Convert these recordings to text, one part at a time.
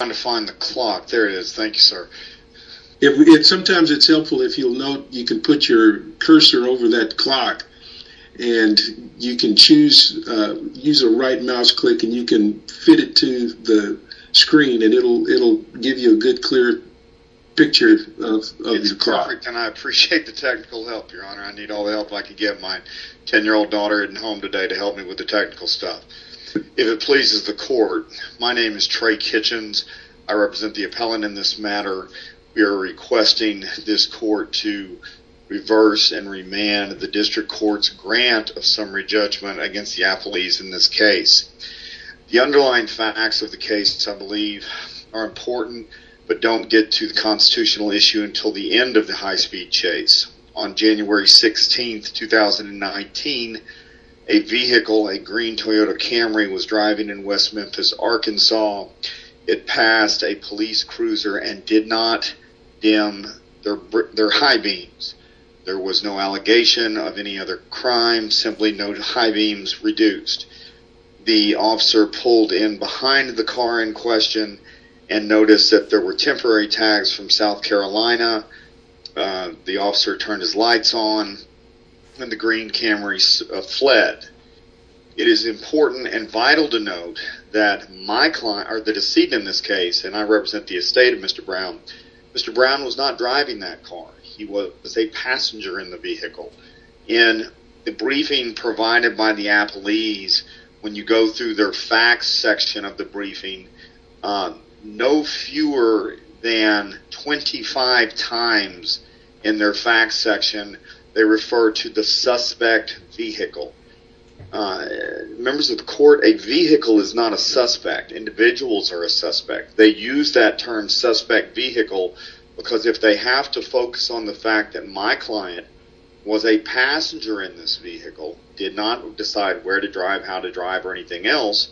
I'm trying to find the clock. There it is. Thank you, sir. Sometimes it's helpful if you'll note you can put your cursor over that clock and you can use a right mouse click and you can fit it to the screen and it'll give you a good, clear picture of your clock. It's perfect, and I appreciate the technical help, Your Honor. I need all the help I can get. My 10-year-old daughter isn't home today to help me with the technical stuff. If it pleases the court, my name is Trey Kitchens. I represent the appellant in this matter. We are requesting this court to reverse and remand the district court's grant of summary judgment against the appellees in this case. The underlying facts of the case, I believe, are important, but don't get to the constitutional issue until the end of the high-speed chase. On January 16, 2019, a vehicle, a green Toyota Camry, was driving in West Memphis, Arkansas. It passed a police cruiser and did not dim their high beams. There was no allegation of any other crime, simply no high beams reduced. The officer pulled in behind the car in question and noticed that there were temporary tags from South Carolina. The officer turned his lights on, and the green Camry fled. It is important and vital to note that my client, or the decedent in this case, and I represent the estate of Mr. Brown, Mr. Brown was not driving that car. He was a passenger in the vehicle. In the briefing provided by the appellees, when you go through their facts section of the briefing, no fewer than 25 times in their facts section, they refer to the suspect vehicle. Members of the court, a vehicle is not a suspect. Individuals are a suspect. They use that term, suspect vehicle, because if they have to focus on the fact that my client was a passenger in this vehicle, did not decide where to drive, how to drive or anything else,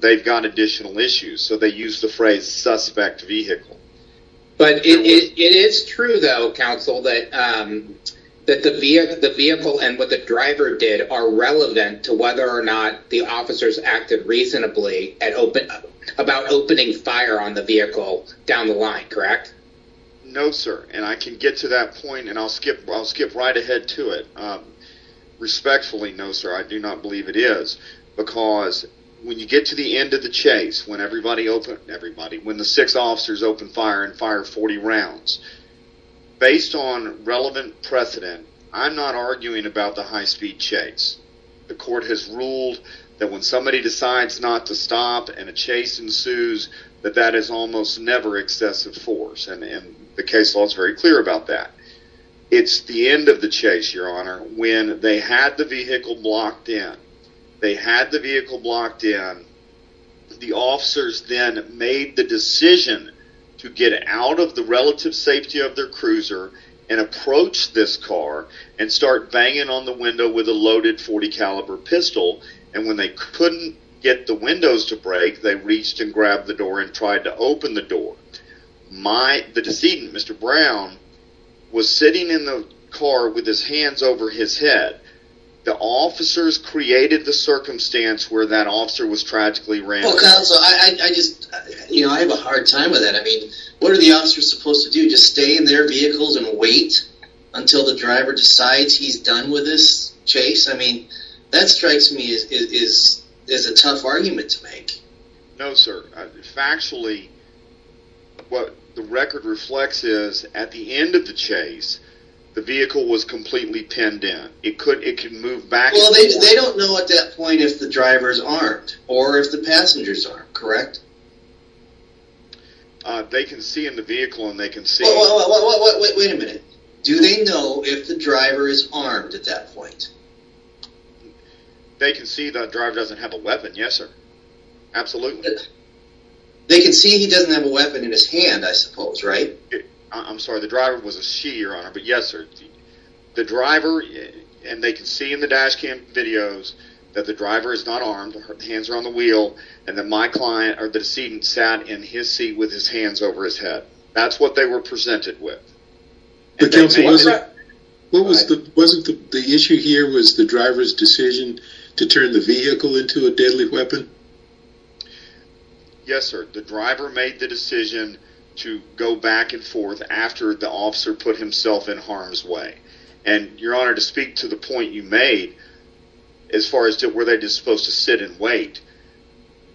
they've got additional issues, so they use the phrase suspect vehicle. But it is true though, counsel, that the vehicle and what the driver did are relevant to whether or not the officers acted reasonably about opening fire on the vehicle down the line, correct? No, sir, and I can get to that point, and I'll skip right ahead to it. Respectfully, no, sir, I do not believe it is, because when you get to the end of the chase, when the six officers open fire and fire 40 rounds, based on relevant precedent, I'm not arguing about the high-speed chase. The court has ruled that when somebody decides not to stop and a chase ensues, that that is almost never excessive force, and the case law is very clear about that. It's the end of the chase, Your Honor, when they had the vehicle blocked in. They had the vehicle blocked in. The officers then made the decision to get out of the relative safety of their cruiser and approach this car and start banging on the window with a loaded .40 caliber pistol, and when they couldn't get the windows to break, they reached and grabbed the door and tried to open the door. The decedent, Mr. Brown, was sitting in the car with his hands over his head. The officers created the circumstance where that officer was tragically rammed. Well, counsel, I just have a hard time with that. I mean, what are the officers supposed to do, just stay in their vehicles and wait until the driver decides he's done with this chase? I mean, that strikes me as a tough argument to make. No, sir. Factually, what the record reflects is at the end of the chase, the vehicle was completely pinned in. It could move back and forth. Well, they don't know at that point if the driver is armed or if the passengers aren't, correct? They can see in the vehicle and they can see. Wait a minute. Do they know if the driver is armed at that point? They can see the driver doesn't have a weapon, yes, sir. Absolutely. They can see he doesn't have a weapon in his hand, I suppose, right? I'm sorry, the driver was a she, your honor, but yes, sir. The driver, and they can see in the dash cam videos, that the driver is not armed, the hands are on the wheel, and that my client, or the decedent, sat in his seat with his hands over his head. That's what they were presented with. But, counsel, wasn't the issue here was the driver's decision to turn the vehicle into a deadly weapon? Yes, sir. The driver made the decision to go back and forth after the officer put himself in harm's way. And, your honor, to speak to the point you made, as far as were they just supposed to sit and wait,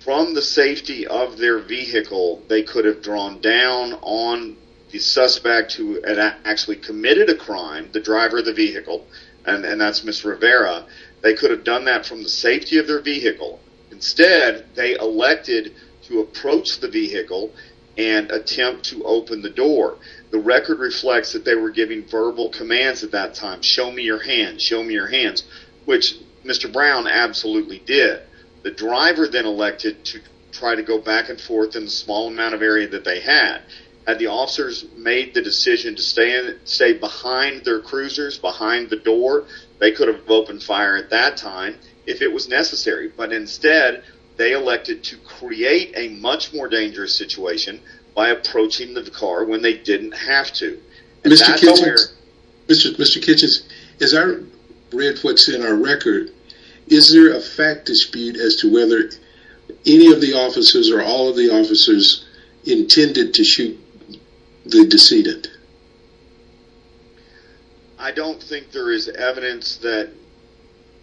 from the safety of their vehicle, they could have drawn down on the suspect who had actually committed a crime, the driver of the vehicle, and that's Ms. Rivera, they could have done that from the safety of their vehicle. Instead, they elected to approach the vehicle and attempt to open the door. The record reflects that they were giving verbal commands at that time, show me your hands, show me your hands, which Mr. Brown absolutely did. The driver then elected to try to go back and forth in the small amount of area that they had. Had the officers made the decision to stay behind their cruisers, behind the door, they could have opened fire at that time if it was necessary. But instead, they elected to create a much more dangerous situation by approaching the car when they didn't have to. Mr. Kitchens, as I read what's in our record, is there a fact dispute as to whether any of the officers or all of the officers intended to shoot the decedent? I don't think there is evidence that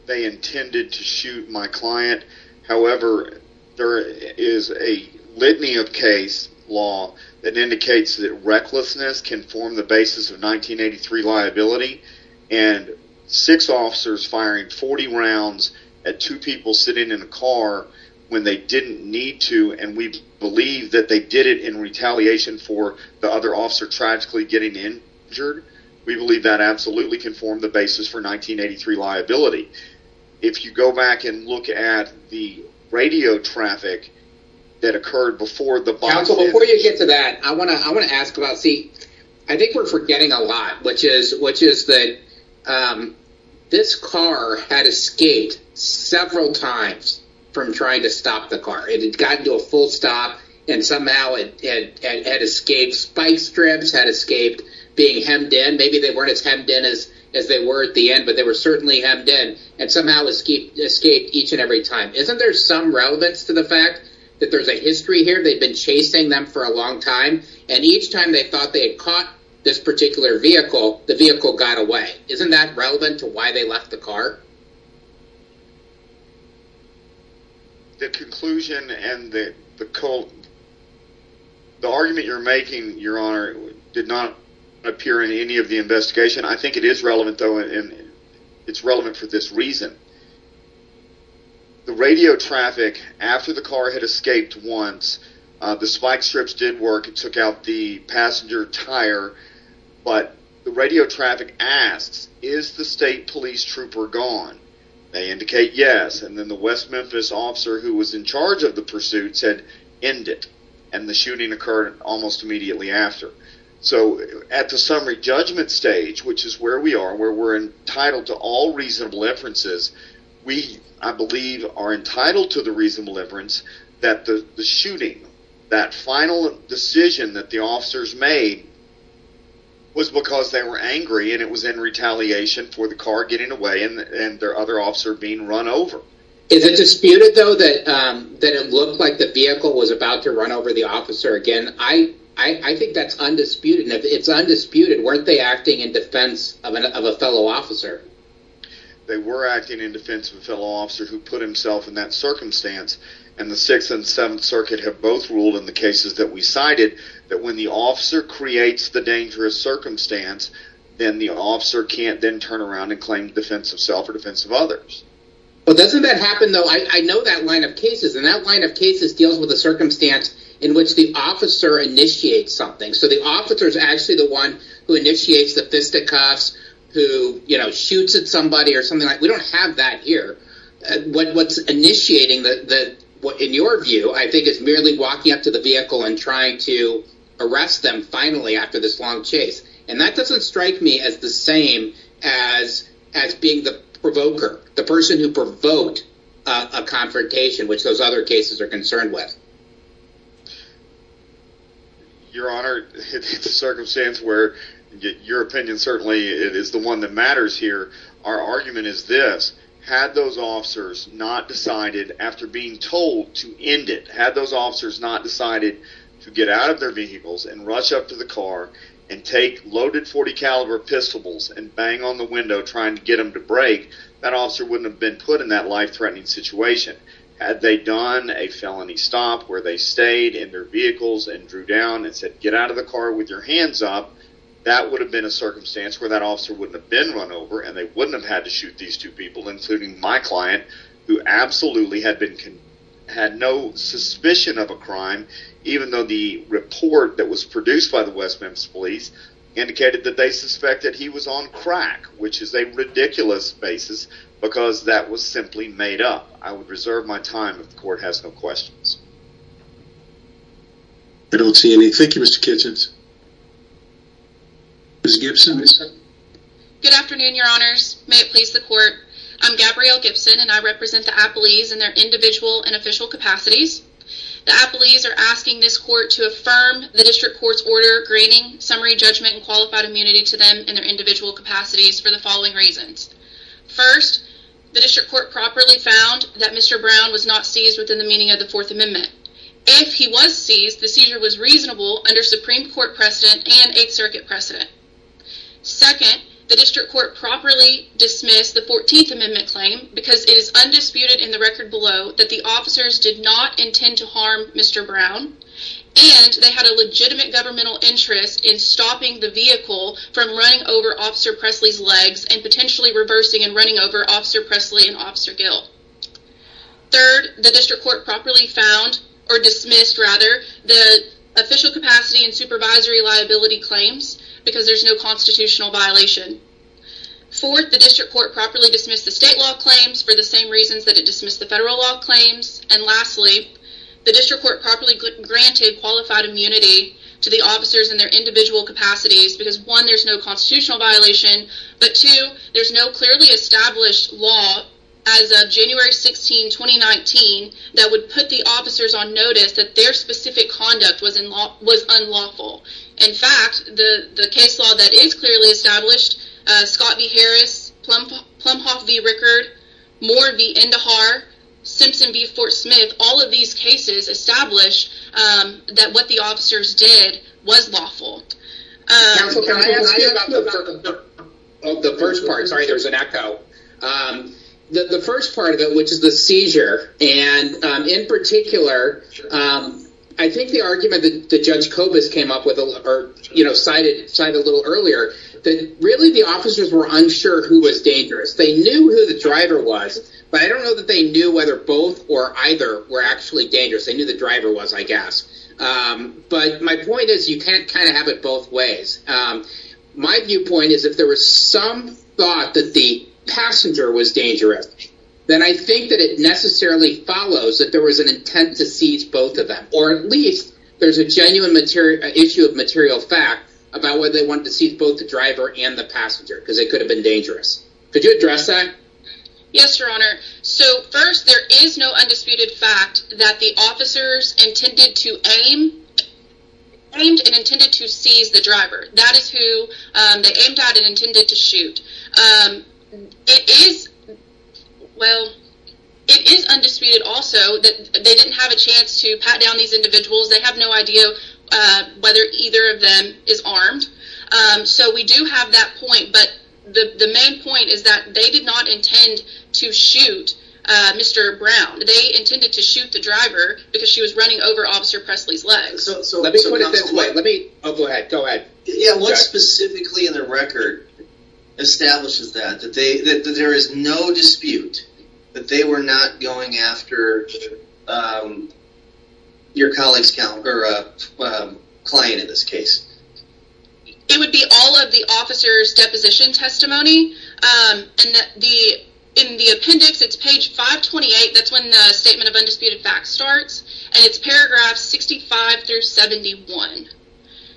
they intended to shoot my client. However, there is a litany of case law that indicates that recklessness can form the basis of 1983 liability, and six officers firing 40 rounds at two people sitting in a car when they didn't need to, and we believe that they did it in retaliation for the other officer tragically getting injured. We believe that absolutely can form the basis for 1983 liability. If you go back and look at the radio traffic that occurred before the... Counsel, before you get to that, I want to ask about... See, I think we're forgetting a lot, which is that this car had escaped several times from trying to stop the car. It had gotten to a full stop and somehow it had escaped. Spike strips had escaped being hemmed in. Maybe they weren't as hemmed in as they were at the end, but they were certainly hemmed in and somehow escaped each and every time. Isn't there some relevance to the fact that there's a history here? They'd been chasing them for a long time, and each time they thought they had caught this particular vehicle, the vehicle got away. Isn't that relevant to why they left the car? The conclusion and the argument you're making, Your Honor, did not appear in any of the investigation. I think it is relevant, though, and it's relevant for this reason. The radio traffic after the car had escaped once, the spike strips did work and took out the passenger tire, but the radio traffic asks, is the state police trooper gone? They indicate yes, and then the West Memphis officer who was in charge of the pursuit said, end it, and the shooting occurred almost immediately after. So at the summary judgment stage, which is where we are, where we're entitled to all reasonable inferences, we, I believe, are entitled to the reasonable inference that the shooting, that final decision that the officers made, was because they were angry and it was in retaliation for the car getting away and their other officer being run over. Is it disputed, though, that it looked like the vehicle was about to run over the officer again? I think that's undisputed, and if it's undisputed, weren't they acting in defense of a fellow officer? They were acting in defense of a fellow officer who put himself in that circumstance, and the 6th and 7th Circuit have both ruled in the cases that we cited that when the officer creates the dangerous circumstance, then the officer can't then turn around and claim defense of self or defense of others. Well, doesn't that happen, though? I know that line of cases, and that line of cases deals with a circumstance in which the officer initiates something. So the officer is actually the one who initiates the fisticuffs, who shoots at somebody or something like that. We don't have that here. What's initiating, in your view, I think, is merely walking up to the vehicle and trying to arrest them finally after this long chase, and that doesn't strike me as the same as being the provoker, the person who provoked a confrontation, which those other cases are concerned with. Your Honor, it's a circumstance where your opinion certainly is the one that matters here. Our argument is this. Had those officers not decided after being told to end it, had those officers not decided to get out of their vehicles and rush up to the car and take loaded .40-caliber pistols and bang on the window trying to get them to break, that officer wouldn't have been put in that life-threatening situation. Had they done a felony stop where they stayed in their vehicles and drew down and said, get out of the car with your hands up, that would have been a circumstance where that officer wouldn't have been run over, and they wouldn't have had to shoot these two people, including my client, who absolutely had no suspicion of a crime, even though the report that was produced by the West Memphis Police indicated that they suspected he was on crack, which is a ridiculous basis because that was simply made up. I would reserve my time if the Court has no questions. I don't see any. Thank you, Mr. Kitchens. Ms. Gibson. Good afternoon, Your Honors. May it please the Court. I'm Gabrielle Gibson, and I represent the appellees in their individual and official capacities. The appellees are asking this Court to affirm the District Court's order granting summary judgment and qualified immunity to them in their individual capacities for the following reasons. First, the District Court properly found that Mr. Brown was not seized within the meaning of the Fourth Amendment. If he was seized, the seizure was reasonable under Supreme Court precedent and Eighth Circuit precedent. Second, the District Court properly dismissed the Fourteenth Amendment claim because it is undisputed in the record below that the officers did not intend to harm Mr. Brown and they had a legitimate governmental interest in stopping the vehicle from running over Officer Presley's legs and potentially reversing and running over Officer Presley and Officer Gill. Third, the District Court properly found, or dismissed, rather, the official capacity and supervisory liability claims because there's no constitutional violation. Fourth, the District Court properly dismissed the state law claims for the same reasons that it dismissed the federal law claims. And lastly, the District Court properly granted qualified immunity to the officers in their individual capacities because one, there's no constitutional violation, but two, there's no clearly established law as of January 16, 2019 that would put the officers on notice that their specific conduct was unlawful. In fact, the case law that is clearly established, Scott v. Harris, Plumhoff v. Rickard, Moore v. Indahar, Simpson v. Fort Smith, all of these cases establish that what the officers did was lawful. Can I ask you about the first part? Sorry, there's an echo. The first part of it, which is the seizure, and in particular, I think the argument that Judge Kobus came up with, or cited a little earlier, that really the officers were unsure who was dangerous. They knew who the driver was, but I don't know that they knew whether both or either were actually dangerous. They knew the driver was, I guess. But my point is you can't kind of have it both ways. My viewpoint is if there was some thought that the passenger was dangerous, then I think that it necessarily follows that there was an intent to seize both of them, or at least there's a genuine issue of material fact about whether they wanted to seize both the driver and the passenger because they could have been dangerous. Could you address that? Yes, Your Honor. First, there is no undisputed fact that the officers intended to aim, aimed and intended to seize the driver. That is who they aimed at and intended to shoot. It is, well, it is undisputed also that they didn't have a chance to pat down these individuals. They have no idea whether either of them is armed. So we do have that point. But the main point is that they did not intend to shoot Mr. Brown. They intended to shoot the driver because she was running over Officer Presley's legs. Let me put it this way. Go ahead. What specifically in the record establishes that? That there is no dispute that they were not going after your colleague's client in this case? It would be all of the officer's deposition testimony. In the appendix, it's page 528. That's when the Statement of Undisputed Facts starts. And it's paragraphs 65 through 71.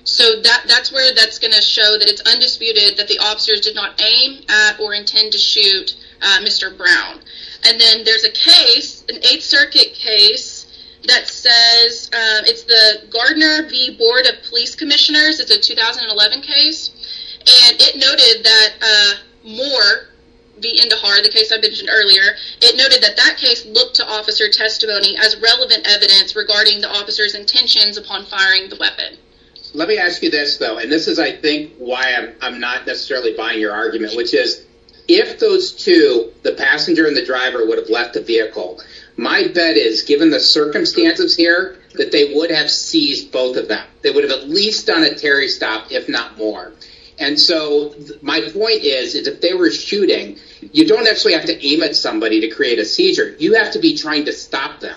So that's where that's going to show that it's undisputed that the officers did not aim at or intend to shoot Mr. Brown. And then there's a case, an Eighth Circuit case, that says, it's the Gardner v. Board of Police Commissioners. It's a 2011 case. And it noted that Moore v. Indahar, the case I mentioned earlier, it noted that that case looked to officer testimony as relevant evidence regarding the officer's intentions upon firing the weapon. Let me ask you this, though. And this is, I think, why I'm not necessarily buying your argument, which is if those two, the passenger and the driver, would have left the vehicle, my bet is, given the circumstances here, that they would have seized both of them. They would have at least done a Terry stop, if not more. And so my point is, is if they were shooting, you don't actually have to aim at somebody to create a seizure. You have to be trying to stop them.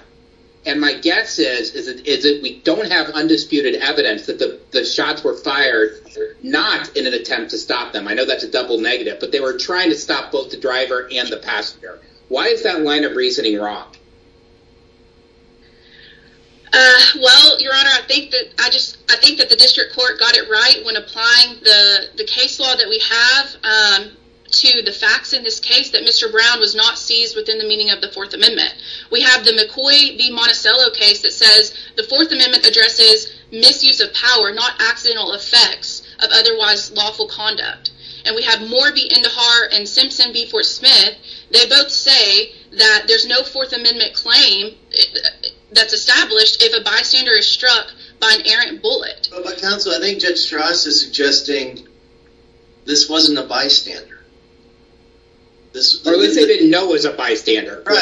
And my guess is that we don't have undisputed evidence that the shots were fired not in an attempt to stop them. I know that's a double negative. But they were trying to stop both the driver and the passenger. Why is that line of reasoning wrong? Well, Your Honor, I think that the district court got it right when applying the case law that we have to the facts in this case, that Mr. Brown was not seized within the meaning of the Fourth Amendment. We have the McCoy v. Monticello case that says the Fourth Amendment addresses misuse of power, not accidental effects of otherwise lawful conduct. And we have Moore v. Indahar and Simpson v. Fort Smith. They both say that there's no Fourth Amendment claim that's established if a bystander is struck by an errant bullet. But counsel, I think Judge Strauss is suggesting this wasn't a bystander. Or at least they didn't know it was a bystander. I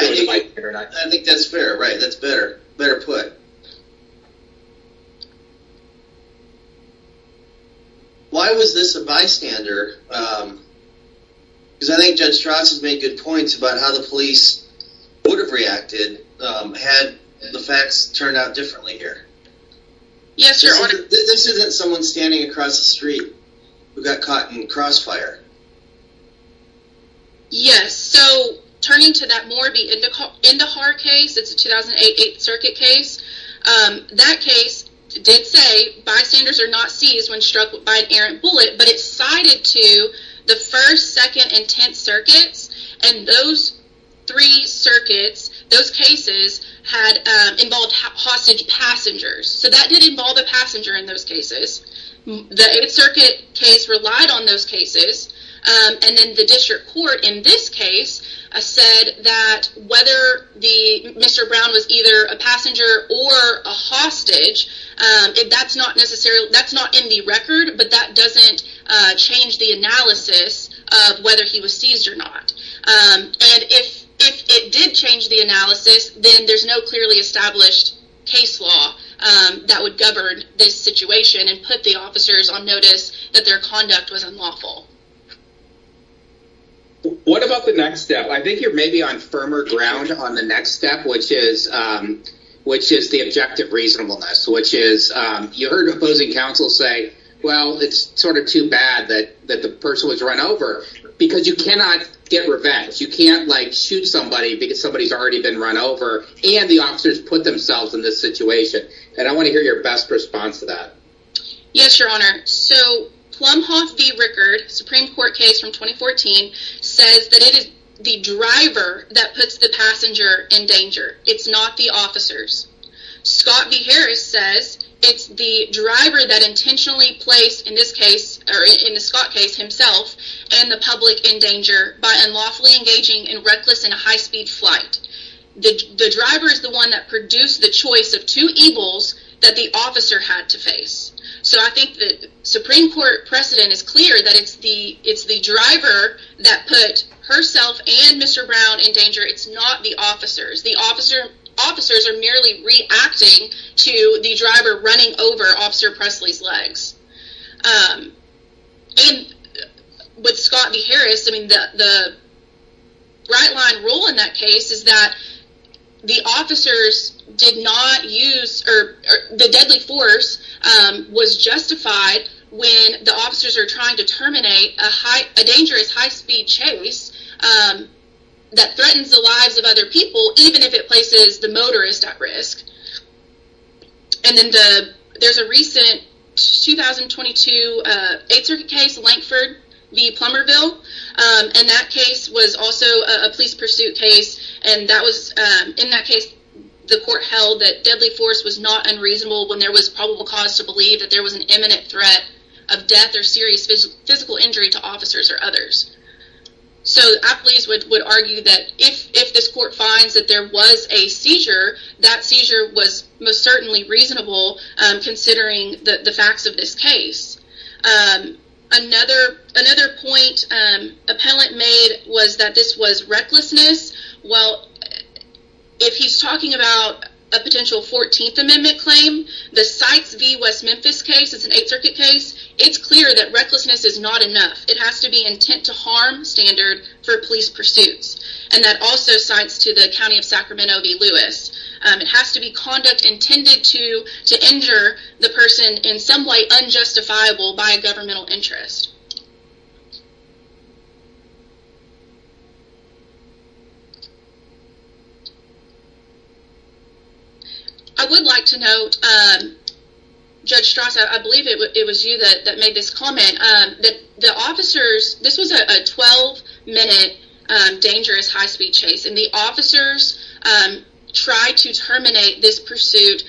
think that's fair. Right. That's better. Better put. Why was this a bystander? Because I think Judge Strauss has made good points about how the police would have reacted had the facts turned out differently here. Yes, Your Honor. This isn't someone standing across the street who got caught in a crossfire. Yes. So turning to that Moore v. Indahar case, it's a 2008 Eighth Circuit case. That case did say bystanders are not seized when struck by an errant bullet. But it's cited to the First, Second, and Tenth Circuits. And those three circuits, those cases had involved hostage passengers. So that did involve a passenger in those cases. The Eighth Circuit case relied on those cases. And then the district court in this case said that whether Mr. Brown was either a passenger or a hostage, that's not in the record, but that doesn't change the analysis of whether he was seized or not. And if it did change the analysis, then there's no clearly established case law that would govern this situation and put the officers on notice that their conduct was unlawful. What about the next step? I think you're maybe on firmer ground on the next step, which is the objective reasonableness, which is you heard opposing counsel say, well, it's sort of too bad that the person was run over because you cannot get revenge. You can't shoot somebody because somebody's already been run over and the officers put themselves in this situation. And I want to hear your best response to that. Yes, Your Honor. So Plumhoff v. Rickard, Supreme Court case from 2014, says that it is the driver that puts the passenger in danger. It's not the officers. Scott v. Harris says it's the driver that intentionally placed, in this case, or in the Scott case himself, and the public in danger by unlawfully engaging in reckless and high-speed flight. The driver is the one that produced the choice of two evils that the officer had to face. So I think the Supreme Court precedent is clear that it's the driver that put herself and Mr. Brown in danger. It's not the officers. The officers are merely reacting to the driver running over Officer Presley's legs. With Scott v. Harris, I mean, the right-line rule in that case is that the officers did not use, or the deadly force was justified when the officers are trying to terminate a dangerous high-speed chase that threatens the lives of other people, even if it places the motorist at risk. And then there's a recent 2022 Eighth Circuit case, Lankford v. Plummerville, and that case was also a police pursuit case, and in that case the court held that deadly force was not unreasonable when there was probable cause to believe that there was an imminent threat of death or serious physical injury to officers or others. So I please would argue that if this court finds that there was a seizure, that seizure was most certainly reasonable, considering the facts of this case. Another point appellant made was that this was recklessness. Well, if he's talking about a potential 14th Amendment claim, the Sykes v. West Memphis case, it's an Eighth Circuit case, it's clear that recklessness is not enough. It has to be intent-to-harm standard for police pursuits, and that also cites to the County of Sacramento v. Lewis. It has to be conduct intended to injure the person in some way unjustifiable by a governmental interest. I would like to note, Judge Strauss, I believe it was you that made this comment, that the officers, this was a 12-minute dangerous high-speed chase, and the officers tried to terminate this pursuit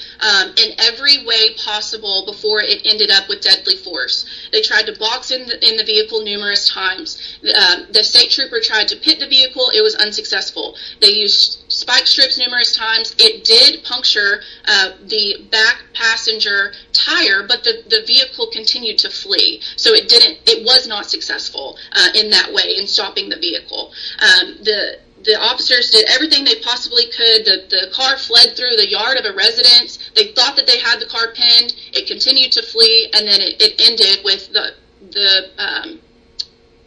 in every way possible before it ended up with deadly force. They tried to box in the vehicle numerous times. The state trooper tried to pit the vehicle. It was unsuccessful. They used spike strips numerous times. It did puncture the back passenger tire, but the vehicle continued to flee, so it was not successful in that way in stopping the vehicle. The officers did everything they possibly could. The car fled through the yard of a residence. They thought that they had the car pinned. It continued to flee, and then it ended with the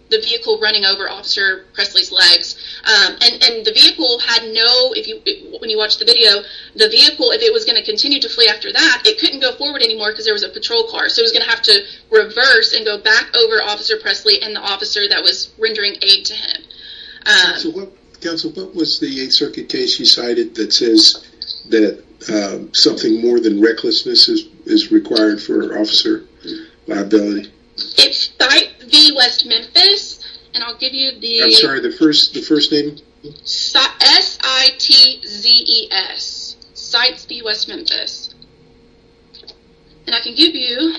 vehicle running over Officer Presley's legs. And the vehicle had no, when you watch the video, the vehicle, if it was going to continue to flee after that, it couldn't go forward anymore because there was a patrol car, so it was going to have to reverse and go back over Officer Presley and the officer that was rendering aid to him. Counsel, what was the Eighth Circuit case you cited that says that something more than recklessness is required for officer liability? It's CITES v. West Memphis, and I'll give you the… I'm sorry, the first name? CITES, C-I-T-E-S, CITES v. West Memphis. And I can give you…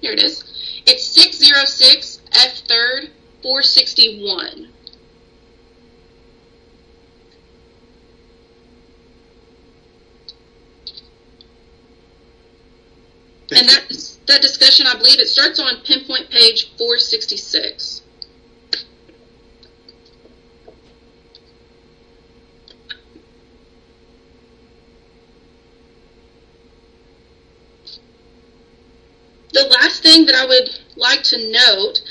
Here it is. It's 606 F. 3rd, 461. Thank you. And that discussion, I believe it starts on pinpoint page 466. The last thing that I would like to note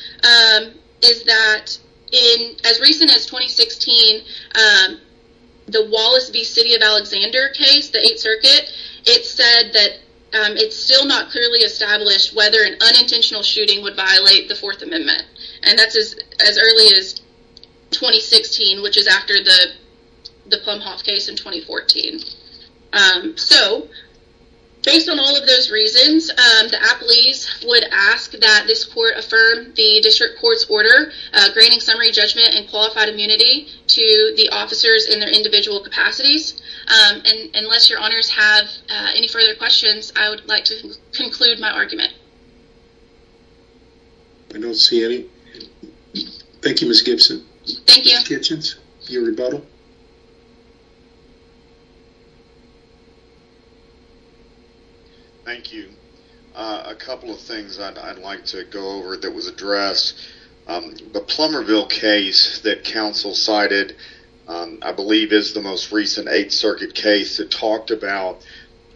is that as recent as 2016, the Wallace v. City of Alexander case, the Eighth Circuit, it said that it's still not clearly established whether an unintentional shooting would violate the Fourth Amendment. And that's as early as 2016, which is after the Plumhoff case in 2014. So, based on all of those reasons, the appellees would ask that this court affirm the district court's order granting summary judgment and qualified immunity to the officers in their individual capacities. And unless your honors have any further questions, I would like to conclude my argument. I don't see any. Thank you, Ms. Gibson. Thank you. Ms. Kitchens, your rebuttal. Thank you. A couple of things I'd like to go over that was addressed. The Plummerville case that counsel cited, I believe, is the most recent Eighth Circuit case that talked about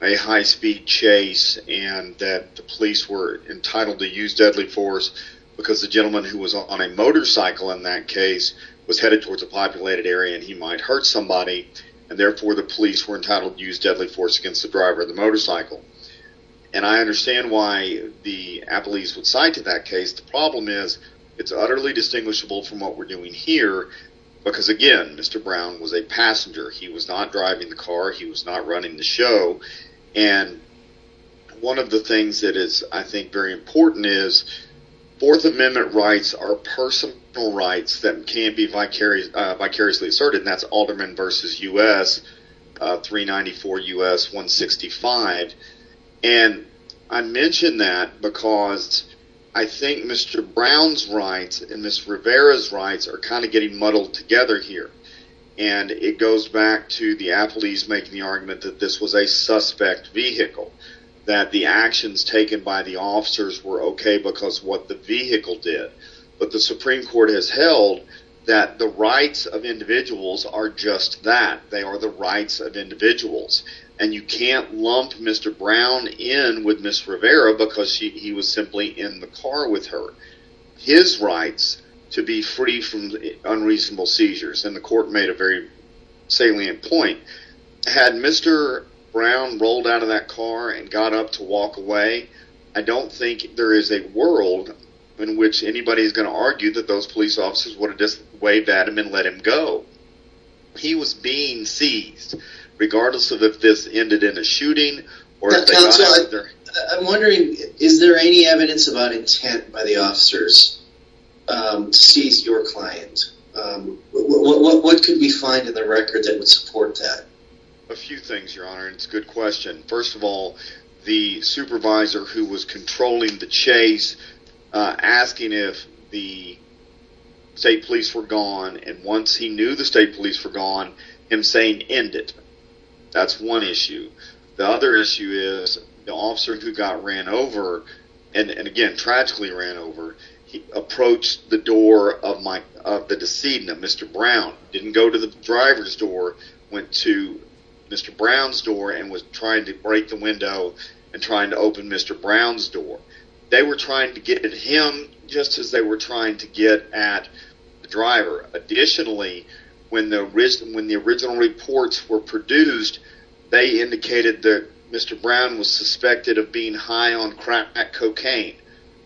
a high-speed chase and that the police were entitled to use deadly force because the gentleman who was on a motorcycle in that case was headed towards a populated area and he might hurt somebody. And, therefore, the police were entitled to use deadly force against the driver of the motorcycle. And I understand why the appellees would cite to that case. The problem is it's utterly distinguishable from what we're doing here because, again, Mr. Brown was a passenger. He was not driving the car. He was not running the show. And one of the things that is, I think, very important is Fourth Amendment rights are personal rights that can be vicariously asserted, and that's Alderman v. U.S. 394 U.S. 165. And I mention that because I think Mr. Brown's rights and Ms. Rivera's rights are kind of getting muddled together here. And it goes back to the appellees making the argument that this was a suspect vehicle, that the actions taken by the officers were okay because what the vehicle did. But the Supreme Court has held that the rights of individuals are just that. They are the rights of individuals. And you can't lump Mr. Brown in with Ms. Rivera because he was simply in the car with her. His rights to be free from unreasonable seizures, and the court made a very salient point, had Mr. Brown rolled out of that car and got up to walk away, I don't think there is a world in which anybody is going to argue that those police officers would have just waved at him and let him go. He was being seized, regardless of if this ended in a shooting. Counsel, I'm wondering, is there any evidence about intent by the officers to seize your client? What could we find in the record that would support that? A few things, Your Honor, and it's a good question. First of all, the supervisor who was controlling the chase, asking if the state police were gone, and once he knew the state police were gone, him saying, end it. That's one issue. The other issue is the officer who got ran over, and again, tragically ran over, he approached the door of the decedent, Mr. Brown, didn't go to the driver's door, went to Mr. Brown's door, and was trying to break the window and trying to open Mr. Brown's door. They were trying to get at him just as they were trying to get at the driver. Additionally, when the original reports were produced, they indicated that Mr. Brown was suspected of being high on crack cocaine.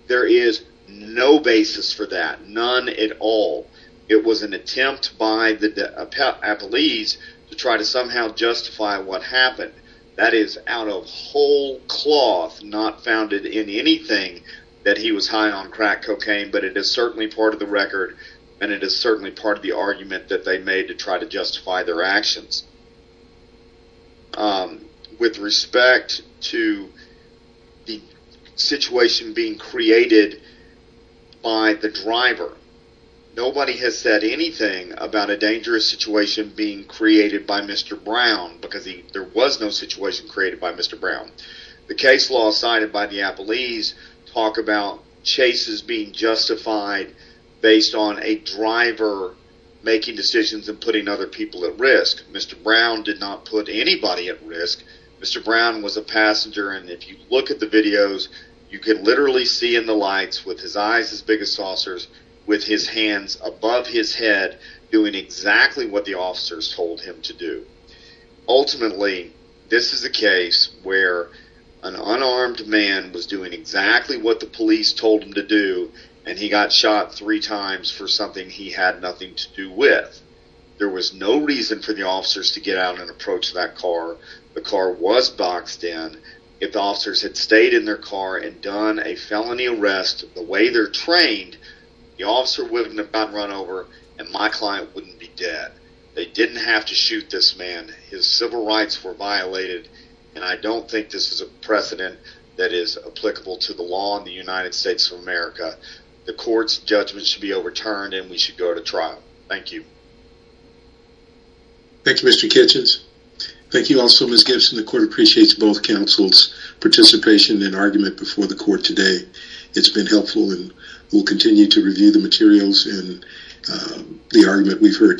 There is no basis for that, none at all. It was an attempt by the police to try to somehow justify what happened. That is out of whole cloth, not founded in anything, that he was high on crack cocaine, but it is certainly part of the record, and it is certainly part of the argument that they made to try to justify their actions. With respect to the situation being created by the driver, nobody has said anything about a dangerous situation being created by Mr. Brown, because there was no situation created by Mr. Brown. The case law cited by the Appleese talk about chases being justified based on a driver making decisions and putting other people at risk. Mr. Brown did not put anybody at risk. Mr. Brown was a passenger, and if you look at the videos, you can literally see in the lights, with his eyes as big as saucers, with his hands above his head, doing exactly what the officers told him to do. Ultimately, this is a case where an unarmed man was doing exactly what the police told him to do, and he got shot three times for something he had nothing to do with. There was no reason for the officers to get out and approach that car. The car was boxed in. If the officers had stayed in their car and done a felony arrest the way they're trained, the officer wouldn't have gotten run over, and my client wouldn't be dead. They didn't have to shoot this man. His civil rights were violated, and I don't think this is a precedent that is applicable to the law in the United States of America. The court's judgment should be overturned, and we should go to trial. Thank you. Thank you, Mr. Kitchens. Thank you also, Ms. Gibson. The court appreciates both counsel's participation and argument before the court today. It's been helpful, and we'll continue to review the materials and the argument we've heard today.